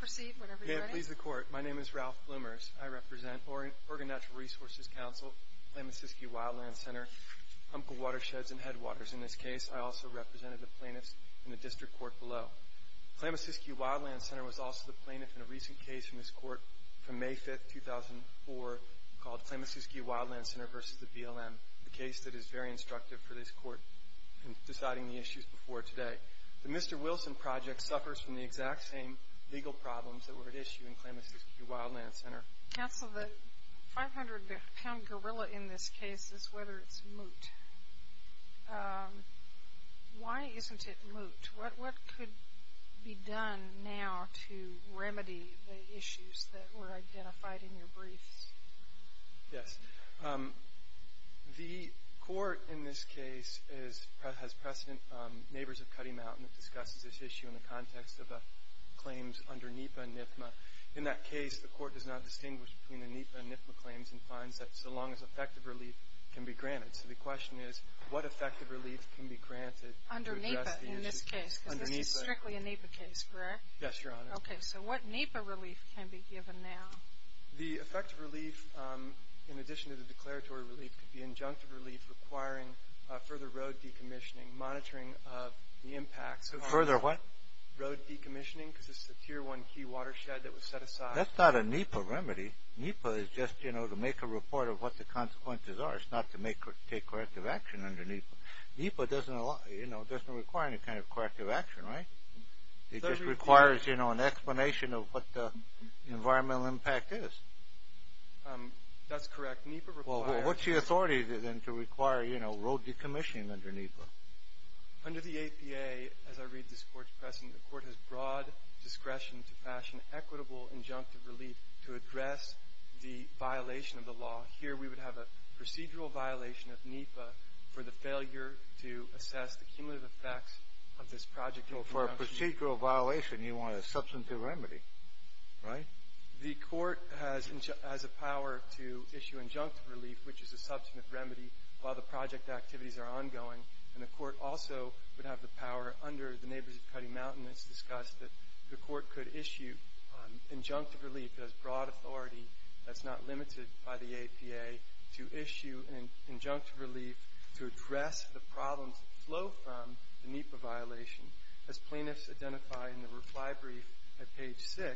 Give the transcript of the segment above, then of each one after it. Proceed whenever you're ready. May it please the Court. My name is Ralph Blumers. I represent Oregon Natural Resources Council, Klamasuskie Wildland Center, Humpka Watersheds and Headwaters. In this case, I also represented the plaintiffs in the District Court below. Klamasuskie Wildland Center was also the plaintiff in a recent case from this Court from May 5, 2004 called Klamasuskie Wildland Center v. the BLM, the case that is very instructive for this Court in deciding the issues before today. The Mr. Wilson Project suffers from the exact same legal problems that were at issue in Klamasuskie Wildland Center. Counsel, the 500-pound gorilla in this case is whether it's moot. Why isn't it moot? What could be done now to remedy the issues that were identified in your briefs? Yes. The Court in this case has precedent, Neighbors of Cutty Mountain, that discusses this issue in the context of claims under NEPA and NIFMA. In that case, the Court does not distinguish between the NEPA and NIFMA claims and finds that so long as effective relief can be granted. So the question is, what effective relief can be granted to address the issue? Under NEPA in this case, because this is strictly a NEPA case, correct? Yes, Your Honor. Okay. So what NEPA relief can be given now? The effective relief, in addition to the declaratory relief, could be injunctive relief requiring further road decommissioning, monitoring of the impacts. Further what? Road decommissioning, because this is a Tier 1 key watershed that was set aside. That's not a NEPA remedy. NEPA is just, you know, to make a report of what the consequences are. It's not to take corrective action under NEPA. NEPA doesn't require any kind of corrective action, right? It just requires, you know, an explanation of what the environmental impact is. That's correct. Well, what's the authority then to require, you know, road decommissioning under NEPA? Under the APA, as I read this Court's pressing, the Court has broad discretion to fashion equitable injunctive relief to address the violation of the law. Here we would have a procedural violation of NEPA for the failure to assess the cumulative effects of this project. Well, for a procedural violation, you want a substantive remedy, right? The Court has a power to issue injunctive relief, which is a substantive remedy, while the project activities are ongoing. And the Court also would have the power under the Neighbors of Cutty Mountain. It's discussed that the Court could issue injunctive relief as broad authority that's not limited by the APA to issue an injunctive relief to address the problems that flow from the NEPA violation, as plaintiffs identify in the reply brief at page 6.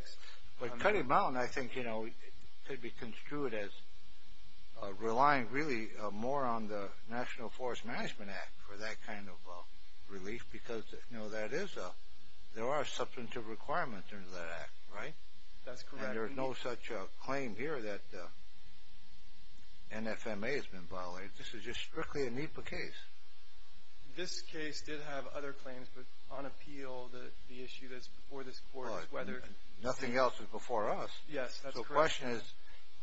But Cutty Mountain, I think, you know, could be construed as relying really more on the National Forest Management Act for that kind of relief because, you know, there are substantive requirements under that act, right? That's correct. And there's no such claim here that NFMA has been violated. This is just strictly a NEPA case. This case did have other claims, but on appeal, the issue that's before this Court is whether… Nothing else is before us. Yes, that's correct. So the question is,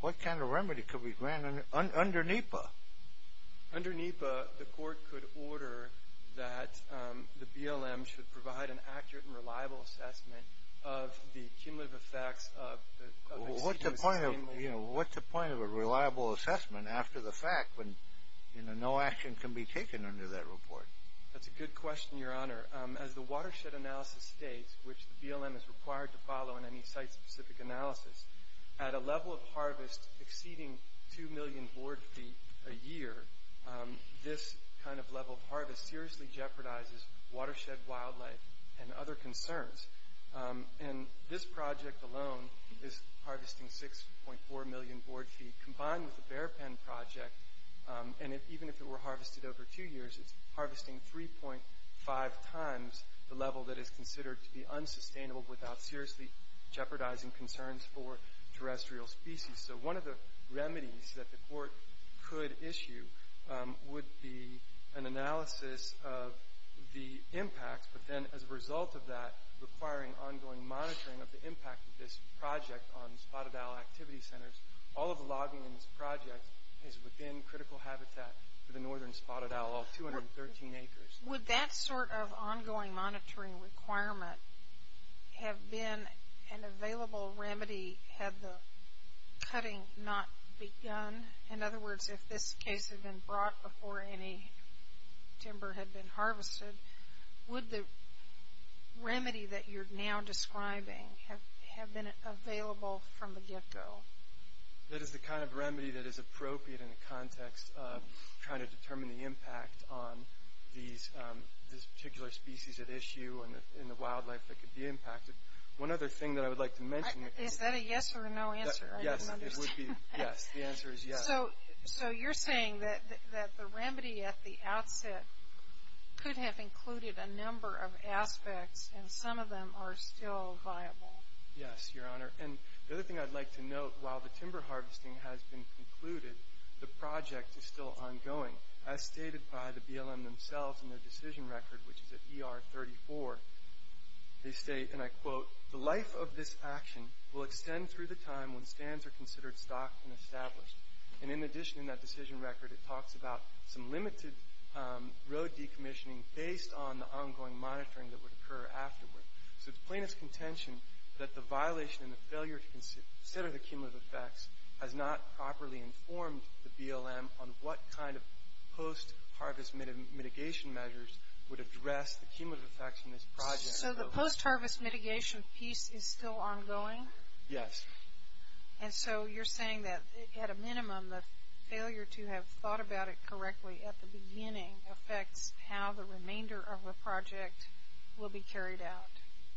what kind of remedy could we grant under NEPA? Under NEPA, the Court could order that the BLM should provide an accurate and reliable assessment of the cumulative effects of… What's the point of a reliable assessment after the fact when no action can be taken under that report? That's a good question, Your Honor. As the watershed analysis states, which the BLM is required to follow in any site-specific analysis, at a level of harvest exceeding 2 million board feet a year, this kind of level of harvest seriously jeopardizes watershed wildlife and other concerns. And this project alone is harvesting 6.4 million board feet. Combined with the bear pen project, and even if it were harvested over two years, it's harvesting 3.5 times the level that is considered to be unsustainable without seriously jeopardizing concerns for terrestrial species. So one of the remedies that the Court could issue would be an analysis of the impact, but then as a result of that requiring ongoing monitoring of the impact of this project on spotted owl activity centers. All of the logging in this project is within critical habitat for the northern spotted owl, all 213 acres. Would that sort of ongoing monitoring requirement have been an available remedy had the cutting not begun? In other words, if this case had been brought before any timber had been harvested, would the remedy that you're now describing have been available from the get-go? That is the kind of remedy that is appropriate in the context of trying to determine the impact on this particular species at issue and the wildlife that could be impacted. One other thing that I would like to mention. Is that a yes or a no answer? Yes, it would be a yes. The answer is yes. So you're saying that the remedy at the outset could have included a number of aspects, and some of them are still viable. Yes, Your Honor. And the other thing I'd like to note, while the timber harvesting has been concluded, the project is still ongoing. As stated by the BLM themselves in their decision record, which is at ER 34, they state, and I quote, The life of this action will extend through the time when stands are considered stocked and established. And in addition in that decision record, it talks about some limited road decommissioning based on the ongoing monitoring that would occur afterward. So it's plain as contention that the violation and the failure to consider the cumulative effects has not properly informed the BLM on what kind of post-harvest mitigation measures would address the cumulative effects in this project. So the post-harvest mitigation piece is still ongoing? Yes. And so you're saying that, at a minimum, the failure to have thought about it correctly at the beginning affects how the remainder of the project will be carried out?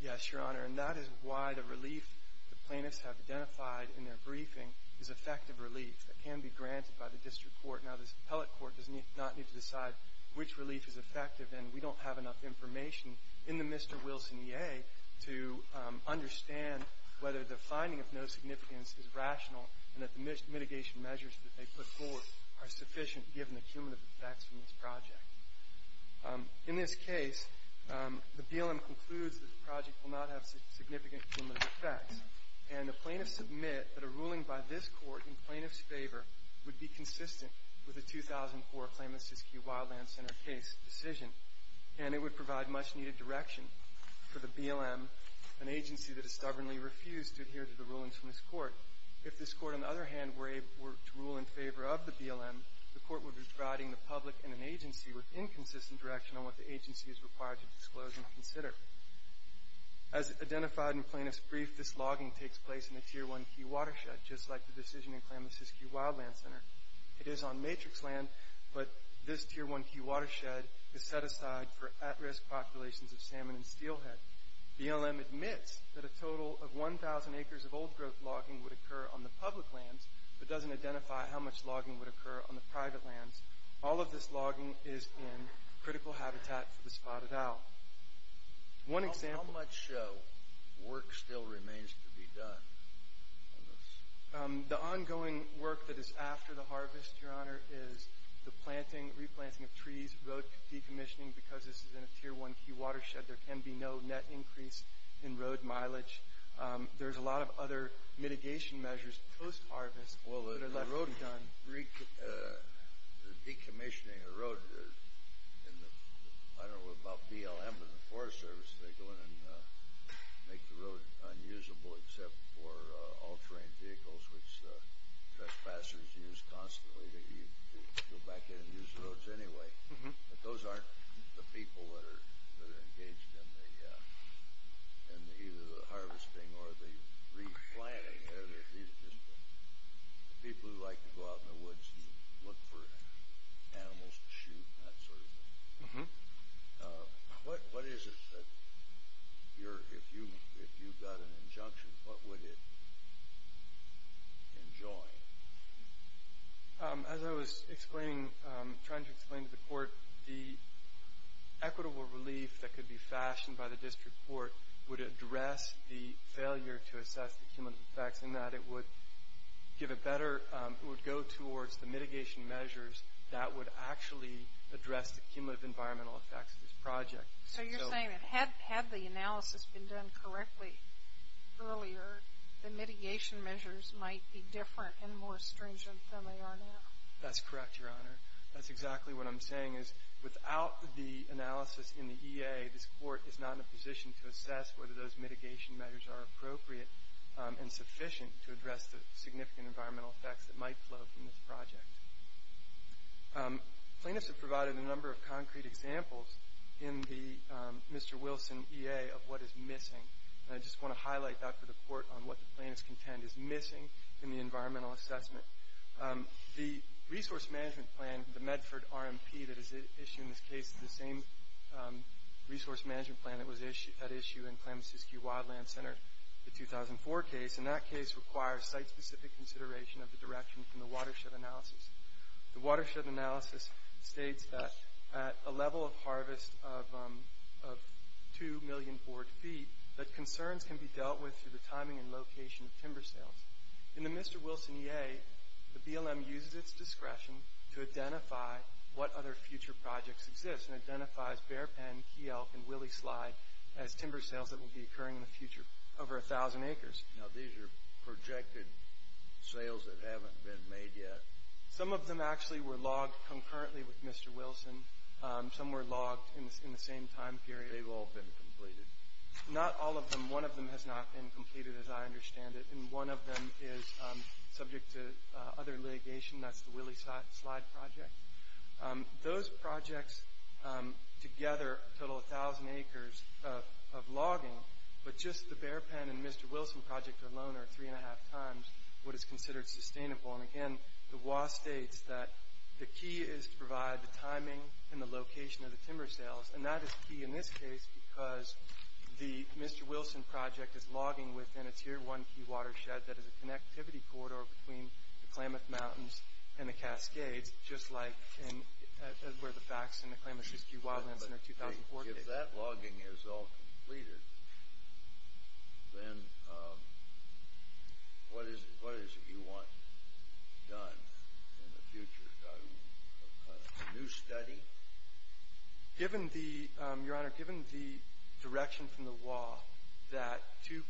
Yes, Your Honor. And that is why the relief the plaintiffs have identified in their briefing is effective relief. It can be granted by the district court. Now, the appellate court does not need to decide which relief is effective, and we don't have enough information in the Mr. Wilson EA to understand whether the finding of no significance is rational and that the mitigation measures that they put forth are sufficient, given the cumulative effects from this project. In this case, the BLM concludes that the project will not have significant cumulative effects, and the plaintiffs submit that a ruling by this court in plaintiffs' favor would be consistent with the 2004 Klamath-Siskiyou Wildland Center case decision, and it would provide much-needed direction for the BLM, an agency that has stubbornly refused to adhere to the rulings from this court. If this court, on the other hand, were to rule in favor of the BLM, the court would be providing the public and an agency with inconsistent direction on what the agency is required to disclose and consider. As identified in plaintiffs' brief, this logging takes place in the Tier 1 Key Watershed, just like the decision in Klamath-Siskiyou Wildland Center. It is on matrix land, but this Tier 1 Key Watershed is set aside for at-risk populations of salmon and steelhead. BLM admits that a total of 1,000 acres of old-growth logging would occur on the public lands, but doesn't identify how much logging would occur on the private lands. All of this logging is in critical habitat for the spotted owl. One example... How much work still remains to be done on this? The ongoing work that is after the harvest, Your Honor, is the planting, replanting of trees, road decommissioning. Because this is in a Tier 1 Key Watershed, there can be no net increase in road mileage. There's a lot of other mitigation measures post-harvest that are left undone. Well, the decommissioning of the road, I don't know about BLM, but the Forest Service, they go in and make the road unusable except for all-terrain vehicles, which trespassers use constantly. They go back in and use the roads anyway. But those aren't the people that are engaged in either the harvesting or the replanting. These are just the people who like to go out in the woods and look for animals to shoot and that sort of thing. If you got an injunction, what would it enjoin? As I was trying to explain to the Court, the equitable relief that could be fashioned by the district court would address the failure to assess the cumulative effects in that. It would give a better... It would go towards the mitigation measures that would actually address the cumulative environmental effects of this project. So you're saying that had the analysis been done correctly earlier, the mitigation measures might be different and more stringent than they are now. That's correct, Your Honor. That's exactly what I'm saying is without the analysis in the EA, this court is not in a position to assess whether those mitigation measures are appropriate and sufficient to address the significant environmental effects that might flow from this project. Plaintiffs have provided a number of concrete examples in the Mr. Wilson EA of what is missing. I just want to highlight, Dr. DePorte, on what the plaintiffs contend is missing in the environmental assessment. The resource management plan, the Medford RMP that is issued in this case, the same resource management plan that was at issue in Klamath-Siskiyou Wildland Center, the 2004 case, and that case requires site-specific consideration of the direction from the watershed analysis. The watershed analysis states that at a level of harvest of 2 million board feet, that concerns can be dealt with through the timing and location of timber sales. In the Mr. Wilson EA, the BLM uses its discretion to identify what other future projects exist. Mr. Wilson identifies Bear Penn, Key Elk, and Willie Slide as timber sales that will be occurring in the future over 1,000 acres. Now, these are projected sales that haven't been made yet. Some of them actually were logged concurrently with Mr. Wilson. Some were logged in the same time period. They've all been completed. Not all of them. One of them has not been completed as I understand it, and one of them is subject to other litigation. That's the Willie Slide project. Those projects together total 1,000 acres of logging, but just the Bear Penn and Mr. Wilson project alone are three and a half times what is considered sustainable. And, again, the WA states that the key is to provide the timing and the location of the timber sales, and that is key in this case because the Mr. Wilson project is logging within a Tier 1 key watershed that is a connectivity corridor between the Klamath Mountains and the Cascades, just like where the facts in the Klamath-Mississippi Wildlands Center 2004 date. If that logging is all completed, then what is it you want done in the future? A new study? Your Honor, given the direction from the WA that 2.0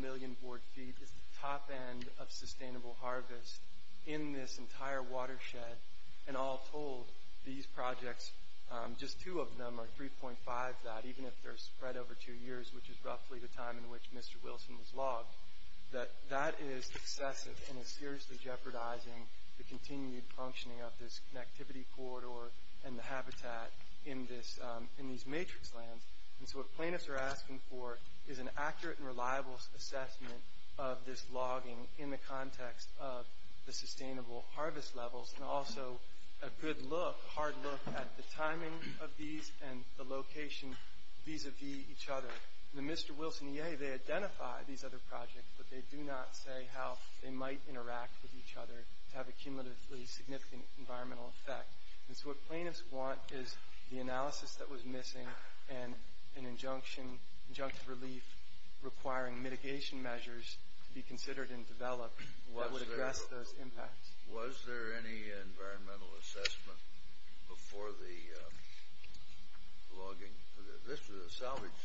million board feet is the top end of sustainable harvest in this entire watershed, and all told these projects, just two of them are 3.5 that, even if they're spread over two years, which is roughly the time in which Mr. Wilson was logged, that that is excessive and is seriously jeopardizing the continued functioning of this connectivity corridor and the habitat in these matrix lands. And so what plaintiffs are asking for is an accurate and reliable assessment of this logging in the context of the sustainable harvest levels and also a good look, a hard look, at the timing of these and the location vis-a-vis each other. In the Mr. Wilson EA, they identify these other projects, but they do not say how they might interact with each other to have a cumulatively significant environmental effect. And so what plaintiffs want is the analysis that was missing and an injunctive relief requiring mitigation measures to be considered and developed that would address those impacts. Was there any environmental assessment before the logging? This was a salvage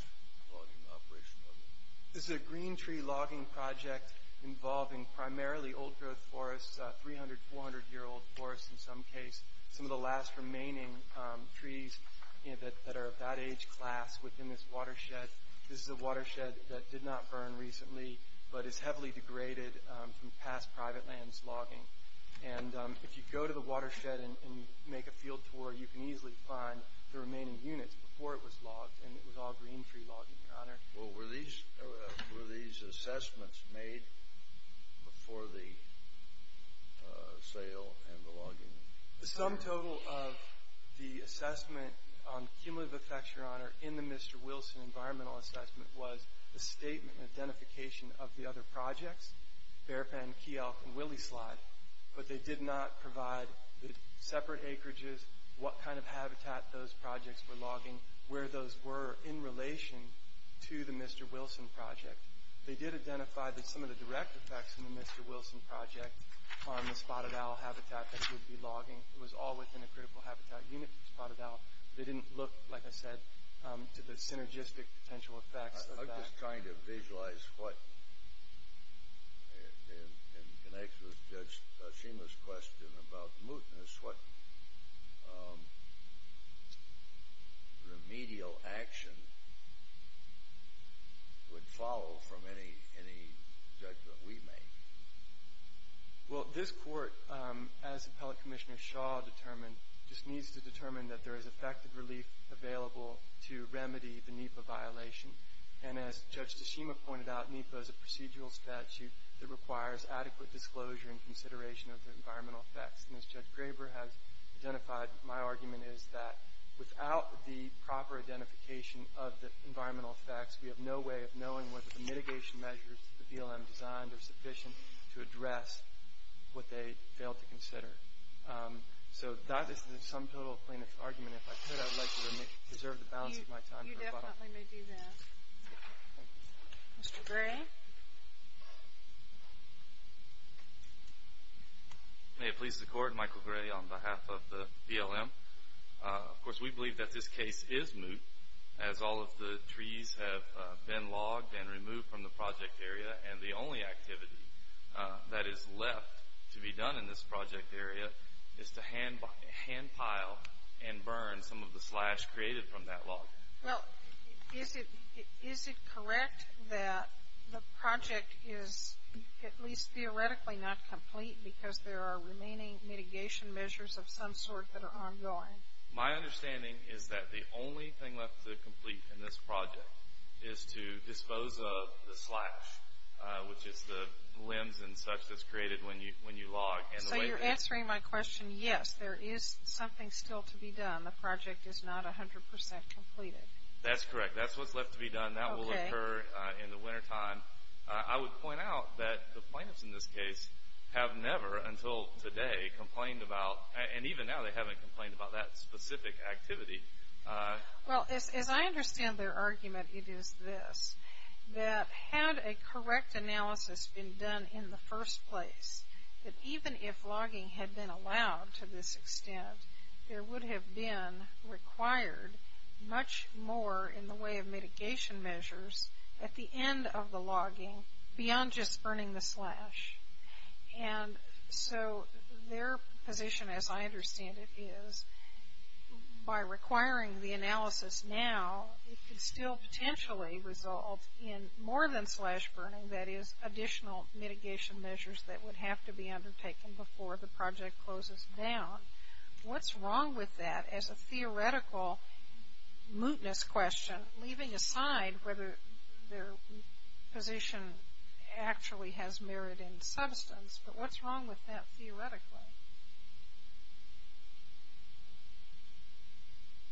logging operation, wasn't it? This is a green tree logging project involving primarily old-growth forests, 300-, 400-year-old forests in some case. Some of the last remaining trees that are of that age class within this watershed. This is a watershed that did not burn recently, but is heavily degraded from past private lands logging. And if you go to the watershed and make a field tour, you can easily find the remaining units before it was logged, and it was all green tree logging, Your Honor. Well, were these assessments made before the sale and the logging? The sum total of the assessment on cumulative effects, Your Honor, in the Mr. Wilson environmental assessment was the statement and identification of the other projects, Bearpen, Key Elk, and Willyslide, but they did not provide the separate acreages, what kind of habitat those projects were logging, where those were in relation to the Mr. Wilson project. They did identify that some of the direct effects from the Mr. Wilson project on the spotted owl habitat that he would be logging was all within a critical habitat unit for spotted owl, but they didn't look, like I said, to the synergistic potential effects of that. I'm just trying to visualize what, in answer to Judge Tashima's question about mootness, what remedial action would follow from any judgment we make? Well, this court, as Appellate Commissioner Shaw determined, just needs to determine that there is effective relief available to remedy the NEPA violation, and as Judge Tashima pointed out, NEPA is a procedural statute that requires adequate disclosure and consideration of the environmental effects, and as Judge Graber has identified, my argument is that without the proper identification of the environmental effects, we have no way of knowing whether the mitigation measures the BLM designed are sufficient to address what they failed to consider. So that is the sum total plaintiff's argument. If I could, I would like to preserve the balance of my time. You definitely may do that. Mr. Gray? May it please the Court, Michael Gray on behalf of the BLM. Of course, we believe that this case is moot, as all of the trees have been logged and removed from the project area, and the only activity that is left to be done in this project area is to hand pile and burn some of the slash created from that log. Well, is it correct that the project is at least theoretically not complete because there are remaining mitigation measures of some sort that are ongoing? My understanding is that the only thing left to complete in this project is to dispose of the slash, which is the limbs and such that's created when you log. So you're answering my question, yes, there is something still to be done. The project is not 100% completed. That's correct. That's what's left to be done. That will occur in the wintertime. I would point out that the plaintiffs in this case have never until today complained about, and even now they haven't complained about that specific activity. Well, as I understand their argument, it is this, that had a correct analysis been done in the first place, that even if logging had been allowed to this extent, there would have been required much more in the way of mitigation measures at the end of the logging beyond just burning the slash. And so their position, as I understand it, is by requiring the analysis now, it could still potentially result in more than slash burning, that is additional mitigation measures that would have to be undertaken before the project closes down. What's wrong with that as a theoretical mootness question, leaving aside whether their position actually has merit in substance, but what's wrong with that theoretically?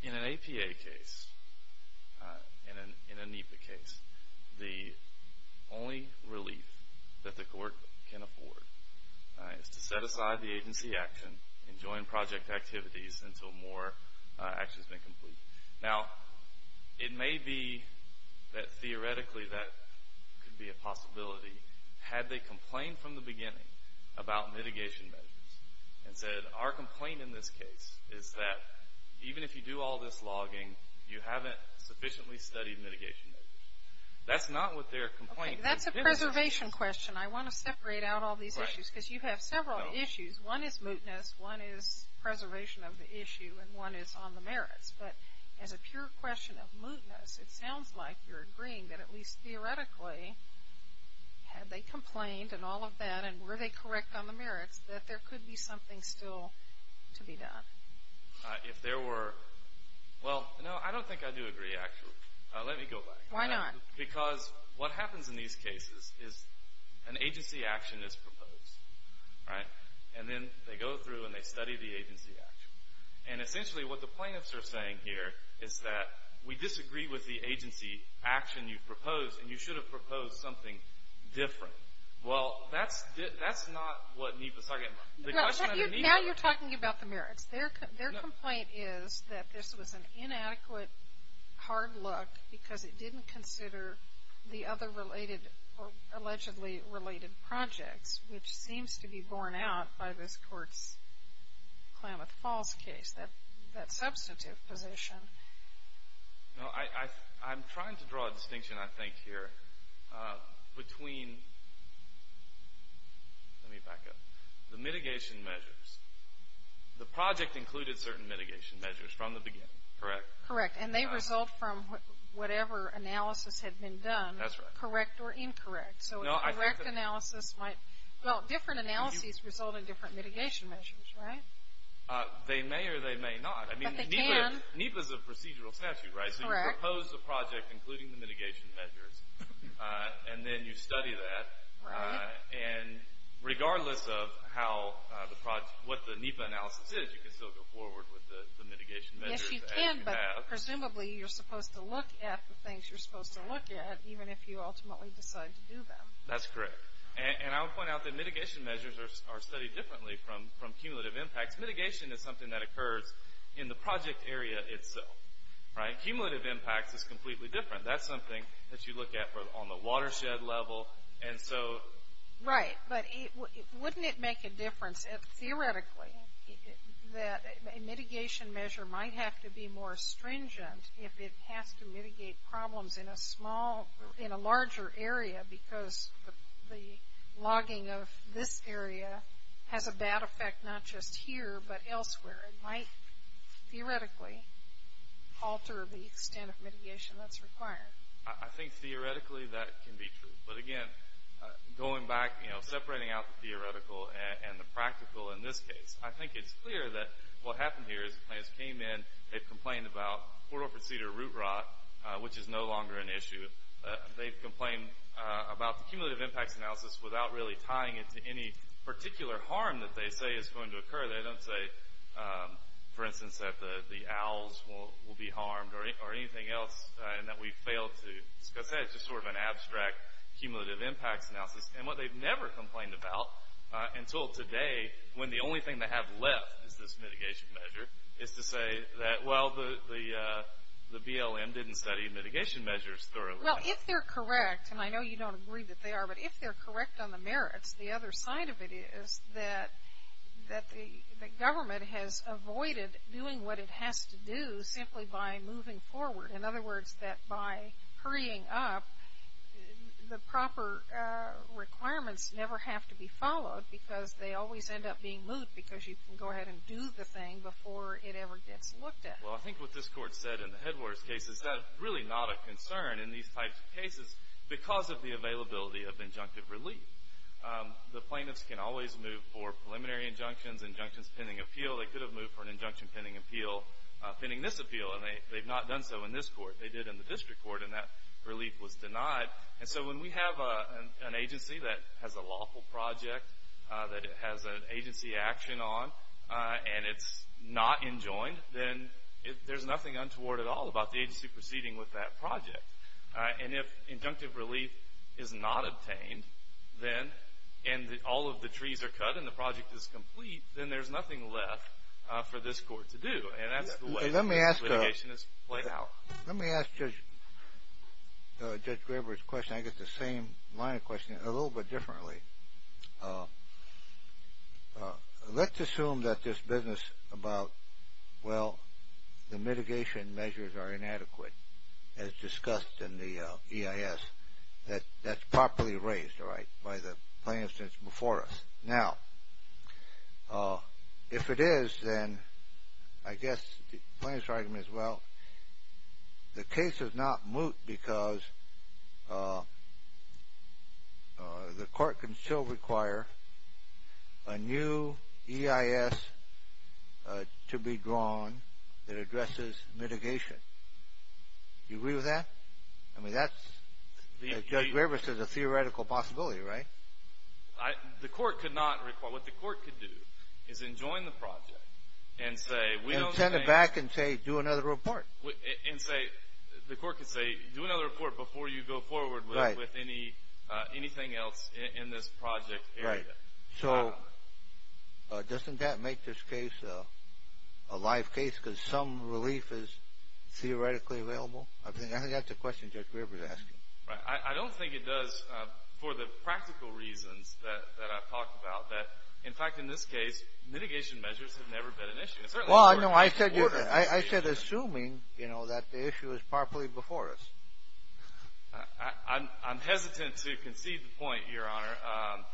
In an APA case, in a NEPA case, the only relief that the court can afford is to set aside the agency action and join project activities until more action has been completed. Now, it may be that theoretically that could be a possibility, had they complained from the beginning about mitigation measures and said our complaint in this case is that even if you do all this logging, you haven't sufficiently studied mitigation measures. That's not what their complaint is. Okay, that's a preservation question. I want to separate out all these issues because you have several issues. One is mootness, one is preservation of the issue, and one is on the merits. But as a pure question of mootness, it sounds like you're agreeing that at least theoretically, had they complained and all of that and were they correct on the merits, that there could be something still to be done. If there were, well, no, I don't think I do agree, actually. Let me go back. Why not? Because what happens in these cases is an agency action is proposed, right? And then they go through and they study the agency action. And essentially what the plaintiffs are saying here is that we disagree with the agency action you've proposed, and you should have proposed something different. Well, that's not what NEPA's talking about. Now you're talking about the merits. Their complaint is that this was an inadequate hard look because it didn't consider the other related or allegedly related projects, which seems to be borne out by this court's Klamath Falls case, that substantive position. No, I'm trying to draw a distinction, I think, here between the mitigation measures. The project included certain mitigation measures from the beginning, correct? Correct, and they result from whatever analysis had been done, correct or incorrect. So a correct analysis might – well, different analyses result in different mitigation measures, right? They may or they may not. But they can. NEPA's a procedural statute, right? Correct. So you propose a project including the mitigation measures, and then you study that. Right. And regardless of what the NEPA analysis is, you can still go forward with the mitigation measures. Yes, you can, but presumably you're supposed to look at the things you're supposed to look at, even if you ultimately decide to do them. That's correct. And I would point out that mitigation measures are studied differently from cumulative impacts. Mitigation is something that occurs in the project area itself, right? Cumulative impacts is completely different. That's something that you look at on the watershed level, and so – Right, but wouldn't it make a difference, theoretically, that a mitigation measure might have to be more stringent if it has to mitigate problems in a small – in a larger area because the logging of this area has a bad effect not just here but elsewhere. It might theoretically alter the extent of mitigation that's required. I think theoretically that can be true. But, again, going back, you know, separating out the theoretical and the practical in this case, I think it's clear that what happened here is the plans came in. They've complained about portal-for-cedar root rot, which is no longer an issue. They've complained about the cumulative impacts analysis without really tying it to any particular harm that they say is going to occur. They don't say, for instance, that the owls will be harmed or anything else, and that we failed to discuss that. It's just sort of an abstract cumulative impacts analysis. And what they've never complained about until today, when the only thing they have left is this mitigation measure, is to say that, well, the BLM didn't study mitigation measures thoroughly. Well, if they're correct, and I know you don't agree that they are, but if they're correct on the merits, the other side of it is that the government has avoided doing what it has to do simply by moving forward. In other words, that by hurrying up, the proper requirements never have to be followed because they always end up being moved because you can go ahead and do the thing before it ever gets looked at. Well, I think what this Court said in the Headwaters case is that it's really not a concern in these types of cases because of the availability of injunctive relief. The plaintiffs can always move for preliminary injunctions, injunctions pending appeal. They could have moved for an injunction pending appeal, pending this appeal, and they've not done so in this court. They did in the district court, and that relief was denied. And so when we have an agency that has a lawful project, that it has an agency action on, and it's not enjoined, then there's nothing untoward at all about the agency proceeding with that project. And if injunctive relief is not obtained, then, and all of the trees are cut and the project is complete, then there's nothing left for this court to do. And that's the way litigation is played out. Let me ask Judge Graber's question. I get the same line of questioning, a little bit differently. Let's assume that this business about, well, the mitigation measures are inadequate, as discussed in the EIS, that that's properly raised by the plaintiffs that's before us. Now, if it is, then I guess the plaintiff's argument is, well, the case is not moot because the court can still require a new EIS to be drawn that addresses mitigation. Do you agree with that? I mean, that's, as Judge Graber says, a theoretical possibility, right? The court could not require, what the court could do is enjoin the project and say, we don't think- And send it back and say, do another report. And say, the court could say, do another report before you go forward with anything else in this project area. Right. So, doesn't that make this case a live case because some relief is theoretically available? I think that's a question Judge Graber's asking. I don't think it does for the practical reasons that I've talked about. In fact, in this case, mitigation measures have never been an issue. Well, no, I said assuming, you know, that the issue is properly before us. I'm hesitant to concede the point, Your Honor.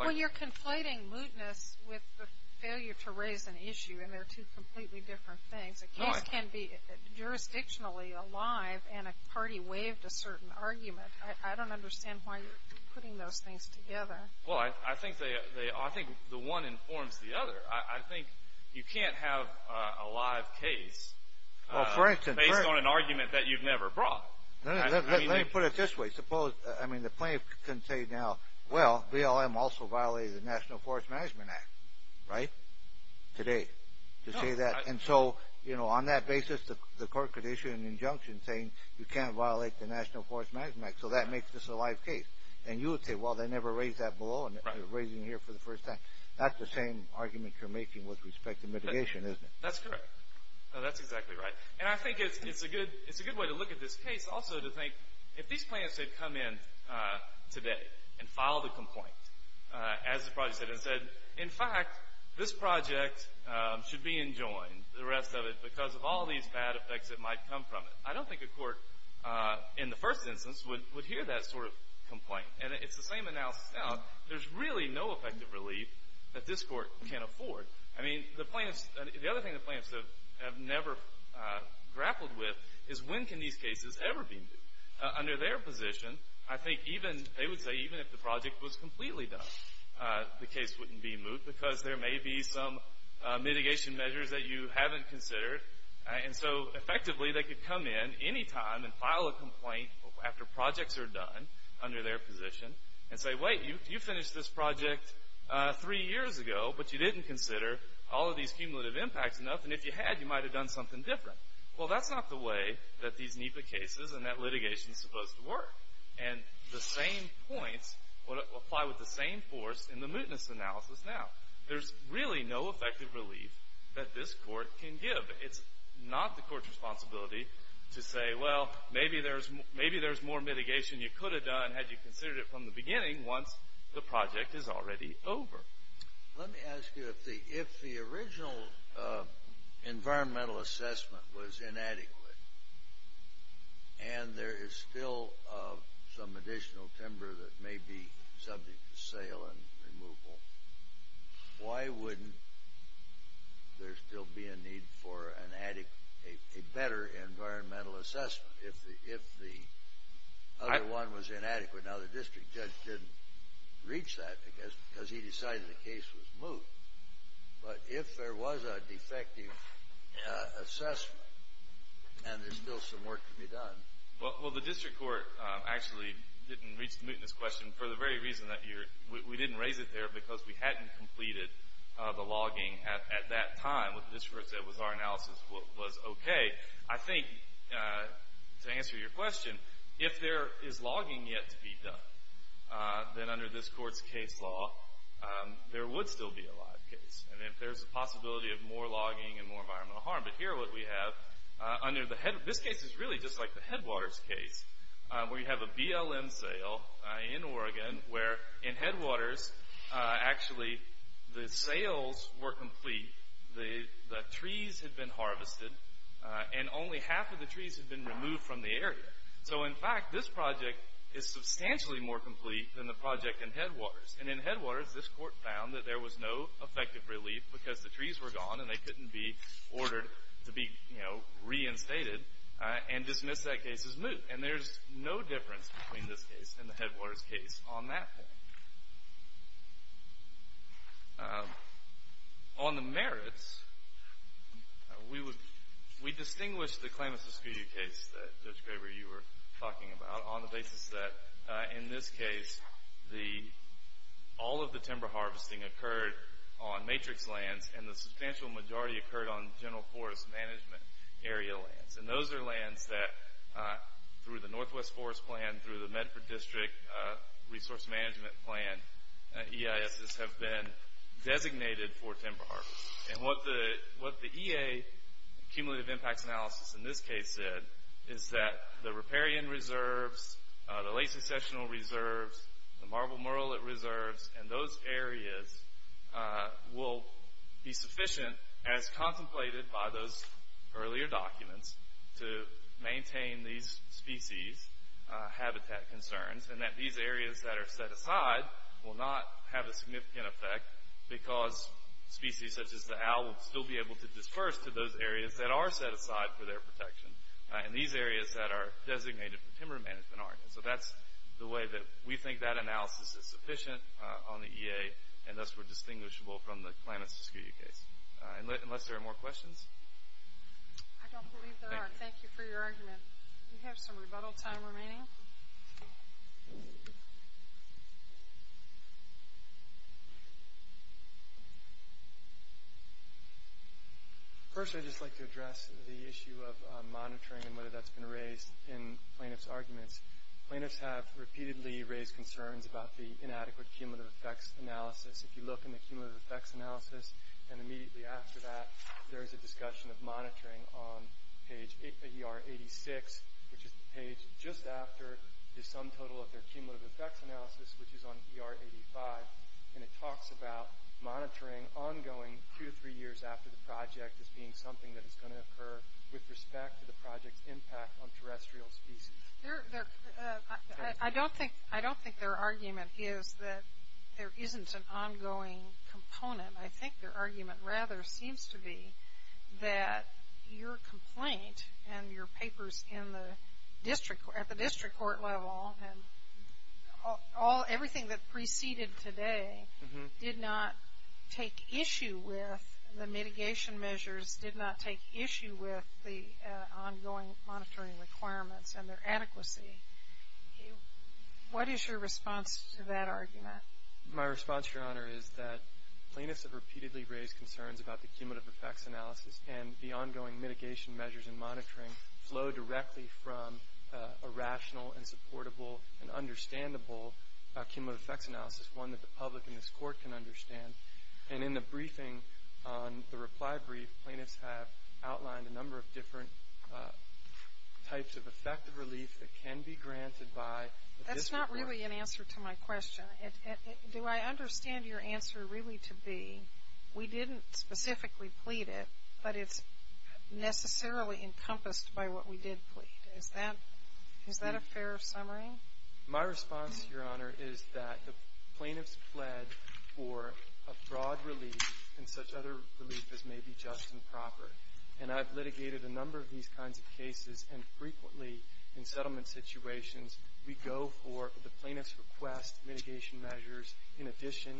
Well, you're conflating mootness with the failure to raise an issue, and they're two completely different things. A case can be jurisdictionally alive, and a party waived a certain argument. I don't understand why you're putting those things together. Well, I think the one informs the other. I think you can't have a live case based on an argument that you've never brought. Let me put it this way. Suppose, I mean, the plaintiff can say now, well, BLM also violated the National Forest Management Act, right, today, to say that. And so, you know, on that basis, the court could issue an injunction saying you can't violate the National Forest Management Act, so that makes this a live case. And you would say, well, they never raised that below, and they're raising it here for the first time. That's the same argument you're making with respect to mitigation, isn't it? That's correct. That's exactly right. And I think it's a good way to look at this case also to think if these plaintiffs had come in today and filed a complaint, as the project said, and said, in fact, this project should be enjoined, the rest of it, because of all these bad effects that might come from it. I don't think a court, in the first instance, would hear that sort of complaint. And it's the same analysis now. There's really no effective relief that this court can afford. I mean, the other thing the plaintiffs have never grappled with is when can these cases ever be moved. Under their position, I think even, they would say, even if the project was completely done, the case wouldn't be moved because there may be some mitigation measures that you haven't considered. And so, effectively, they could come in any time and file a complaint after projects are done under their position and say, wait, you finished this project three years ago, but you didn't consider all of these cumulative impacts enough, and if you had, you might have done something different. Well, that's not the way that these NEPA cases and that litigation is supposed to work. And the same points apply with the same force in the mootness analysis now. There's really no effective relief that this court can give. It's not the court's responsibility to say, well, maybe there's more mitigation you could have done had you considered it from the beginning once the project is already over. Let me ask you, if the original environmental assessment was inadequate and there is still some additional timber that may be subject to sale and removal, why wouldn't there still be a need for a better environmental assessment if the other one was inadequate? Now, the district judge didn't reach that, I guess, because he decided the case was moot. But if there was a defective assessment and there's still some work to be done. Well, the district court actually didn't reach the mootness question for the very reason that we didn't raise it there because we hadn't completed the logging at that time. What the district court said was our analysis was okay. I think, to answer your question, if there is logging yet to be done, then under this court's case law, there would still be a live case. And if there's a possibility of more logging and more environmental harm. But here what we have, this case is really just like the Headwaters case, where you have a BLM sale in Oregon, where in Headwaters, actually, the sales were complete. The trees had been harvested, and only half of the trees had been removed from the area. So, in fact, this project is substantially more complete than the project in Headwaters. And in Headwaters, this court found that there was no effective relief because the trees were gone and they couldn't be ordered to be reinstated and dismiss that case as moot. And there's no difference between this case and the Headwaters case on that point. On the merits, we distinguish the Klamath-Escudu case that Judge Graber, you were talking about, on the basis that, in this case, all of the timber harvesting occurred on matrix lands and the substantial majority occurred on general forest management area lands. And those are lands that, through the Northwest Forest Plan, through the Medford District Resource Management Plan, EISs have been designated for timber harvesting. And what the EA cumulative impacts analysis, in this case, said, is that the riparian reserves, the late-secessional reserves, the marble murrelet reserves, and those areas will be sufficient, as contemplated by those earlier documents, to maintain these species' habitat concerns and that these areas that are set aside will not have a significant effect because species such as the owl will still be able to disperse to those areas that are set aside for their protection and these areas that are designated for timber management aren't. And so that's the way that we think that analysis is sufficient on the EA, and thus we're distinguishable from the Klamath-Escudu case. Unless there are more questions? I don't believe there are. Thank you for your argument. We have some rebuttal time remaining. First, I'd just like to address the issue of monitoring and whether that's been raised in plaintiffs' arguments. Plaintiffs have repeatedly raised concerns about the inadequate cumulative effects analysis. If you look in the cumulative effects analysis, and immediately after that, there is a discussion of monitoring on page ER 86, which is the page just after the sum total of their cumulative effects analysis, which is on ER 85, and it talks about monitoring ongoing two to three years after the project as being something that is going to occur with respect to the project's impact on terrestrial species. I don't think their argument is that there isn't an ongoing component. I think their argument rather seems to be that your complaint and your papers at the district court level and everything that preceded today did not take issue with the mitigation measures, did not take issue with the ongoing monitoring requirements and their adequacy. What is your response to that argument? My response, Your Honor, is that plaintiffs have repeatedly raised concerns about the cumulative effects analysis and the ongoing mitigation measures and monitoring flow directly from a rational and supportable and understandable cumulative effects analysis, one that the public and this court can understand. And in the briefing on the reply brief, plaintiffs have outlined a number of different types of effective relief that can be granted by the district court. That's not really an answer to my question. Do I understand your answer really to be we didn't specifically plead it, but it's necessarily encompassed by what we did plead? Is that a fair summary? My response, Your Honor, is that the plaintiffs pled for a broad relief and such other relief as may be just and proper. And I've litigated a number of these kinds of cases, and frequently in settlement situations, we go for the plaintiff's request mitigation measures in addition,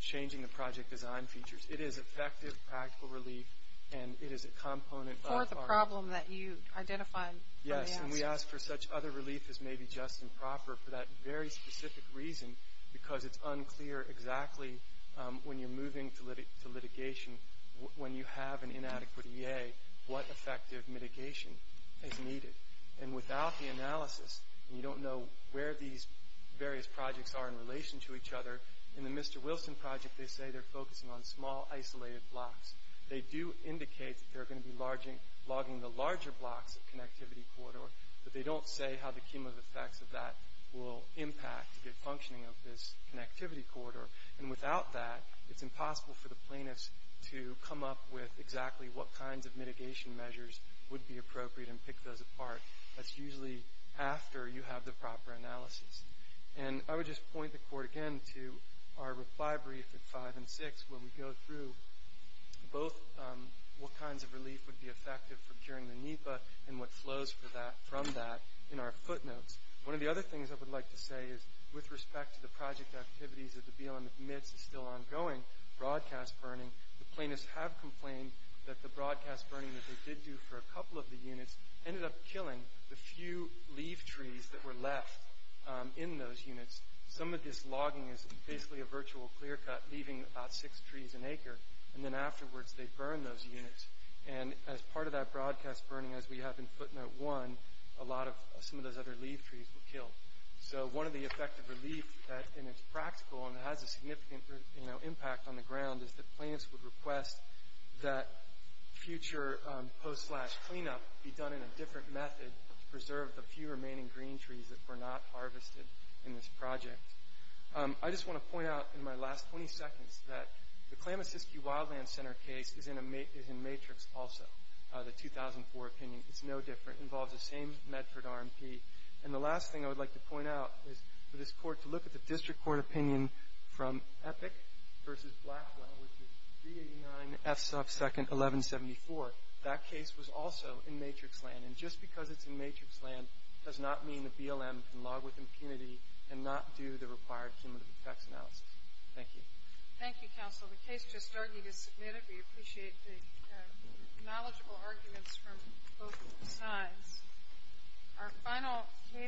changing the project design features. It is effective practical relief, and it is a component of our- For the problem that you identified. Yes, and we ask for such other relief as may be just and proper for that very specific reason, because it's unclear exactly when you're moving to litigation, when you have an inadequate EA, what effective mitigation is needed. And without the analysis, you don't know where these various projects are in relation to each other. In the Mr. Wilson project, they say they're focusing on small, isolated blocks. They do indicate that they're going to be logging the larger blocks of connectivity corridor, but they don't say how the cumulative effects of that will impact the functioning of this connectivity corridor. And without that, it's impossible for the plaintiffs to come up with exactly what kinds of mitigation measures would be appropriate and pick those apart. That's usually after you have the proper analysis. And I would just point the court again to our reply brief at 5 and 6, where we go through both what kinds of relief would be effective for curing the NEPA and what flows from that in our footnotes. One of the other things I would like to say is with respect to the project activities that the BLM admits is still ongoing, broadcast burning, the plaintiffs have complained that the broadcast burning that they did do for a couple of the units ended up killing the few leaf trees that were left in those units. Some of this logging is basically a virtual clear-cut, leaving about six trees an acre, and then afterwards they burn those units. And as part of that broadcast burning, as we have in footnote 1, a lot of some of those other leaf trees were killed. So one of the effective relief that is practical and has a significant impact on the ground is that plaintiffs would request that future post-slash-cleanup be done in a different method to preserve the few remaining green trees that were not harvested in this project. I just want to point out in my last 20 seconds that the Klamasiski Wildland Center case is in matrix also, the 2004 opinion. It's no different. It involves the same Medford RMP. And the last thing I would like to point out is for this court to look at the district court opinion from Epic v. Blackwell, which is 389 F-1174. That case was also in matrix land. And just because it's in matrix land does not mean the BLM can log with impunity and not do the required cumulative effects analysis. Thank you. Thank you, counsel. The case just argued is submitted. We appreciate the knowledgeable arguments from both sides. Our final case.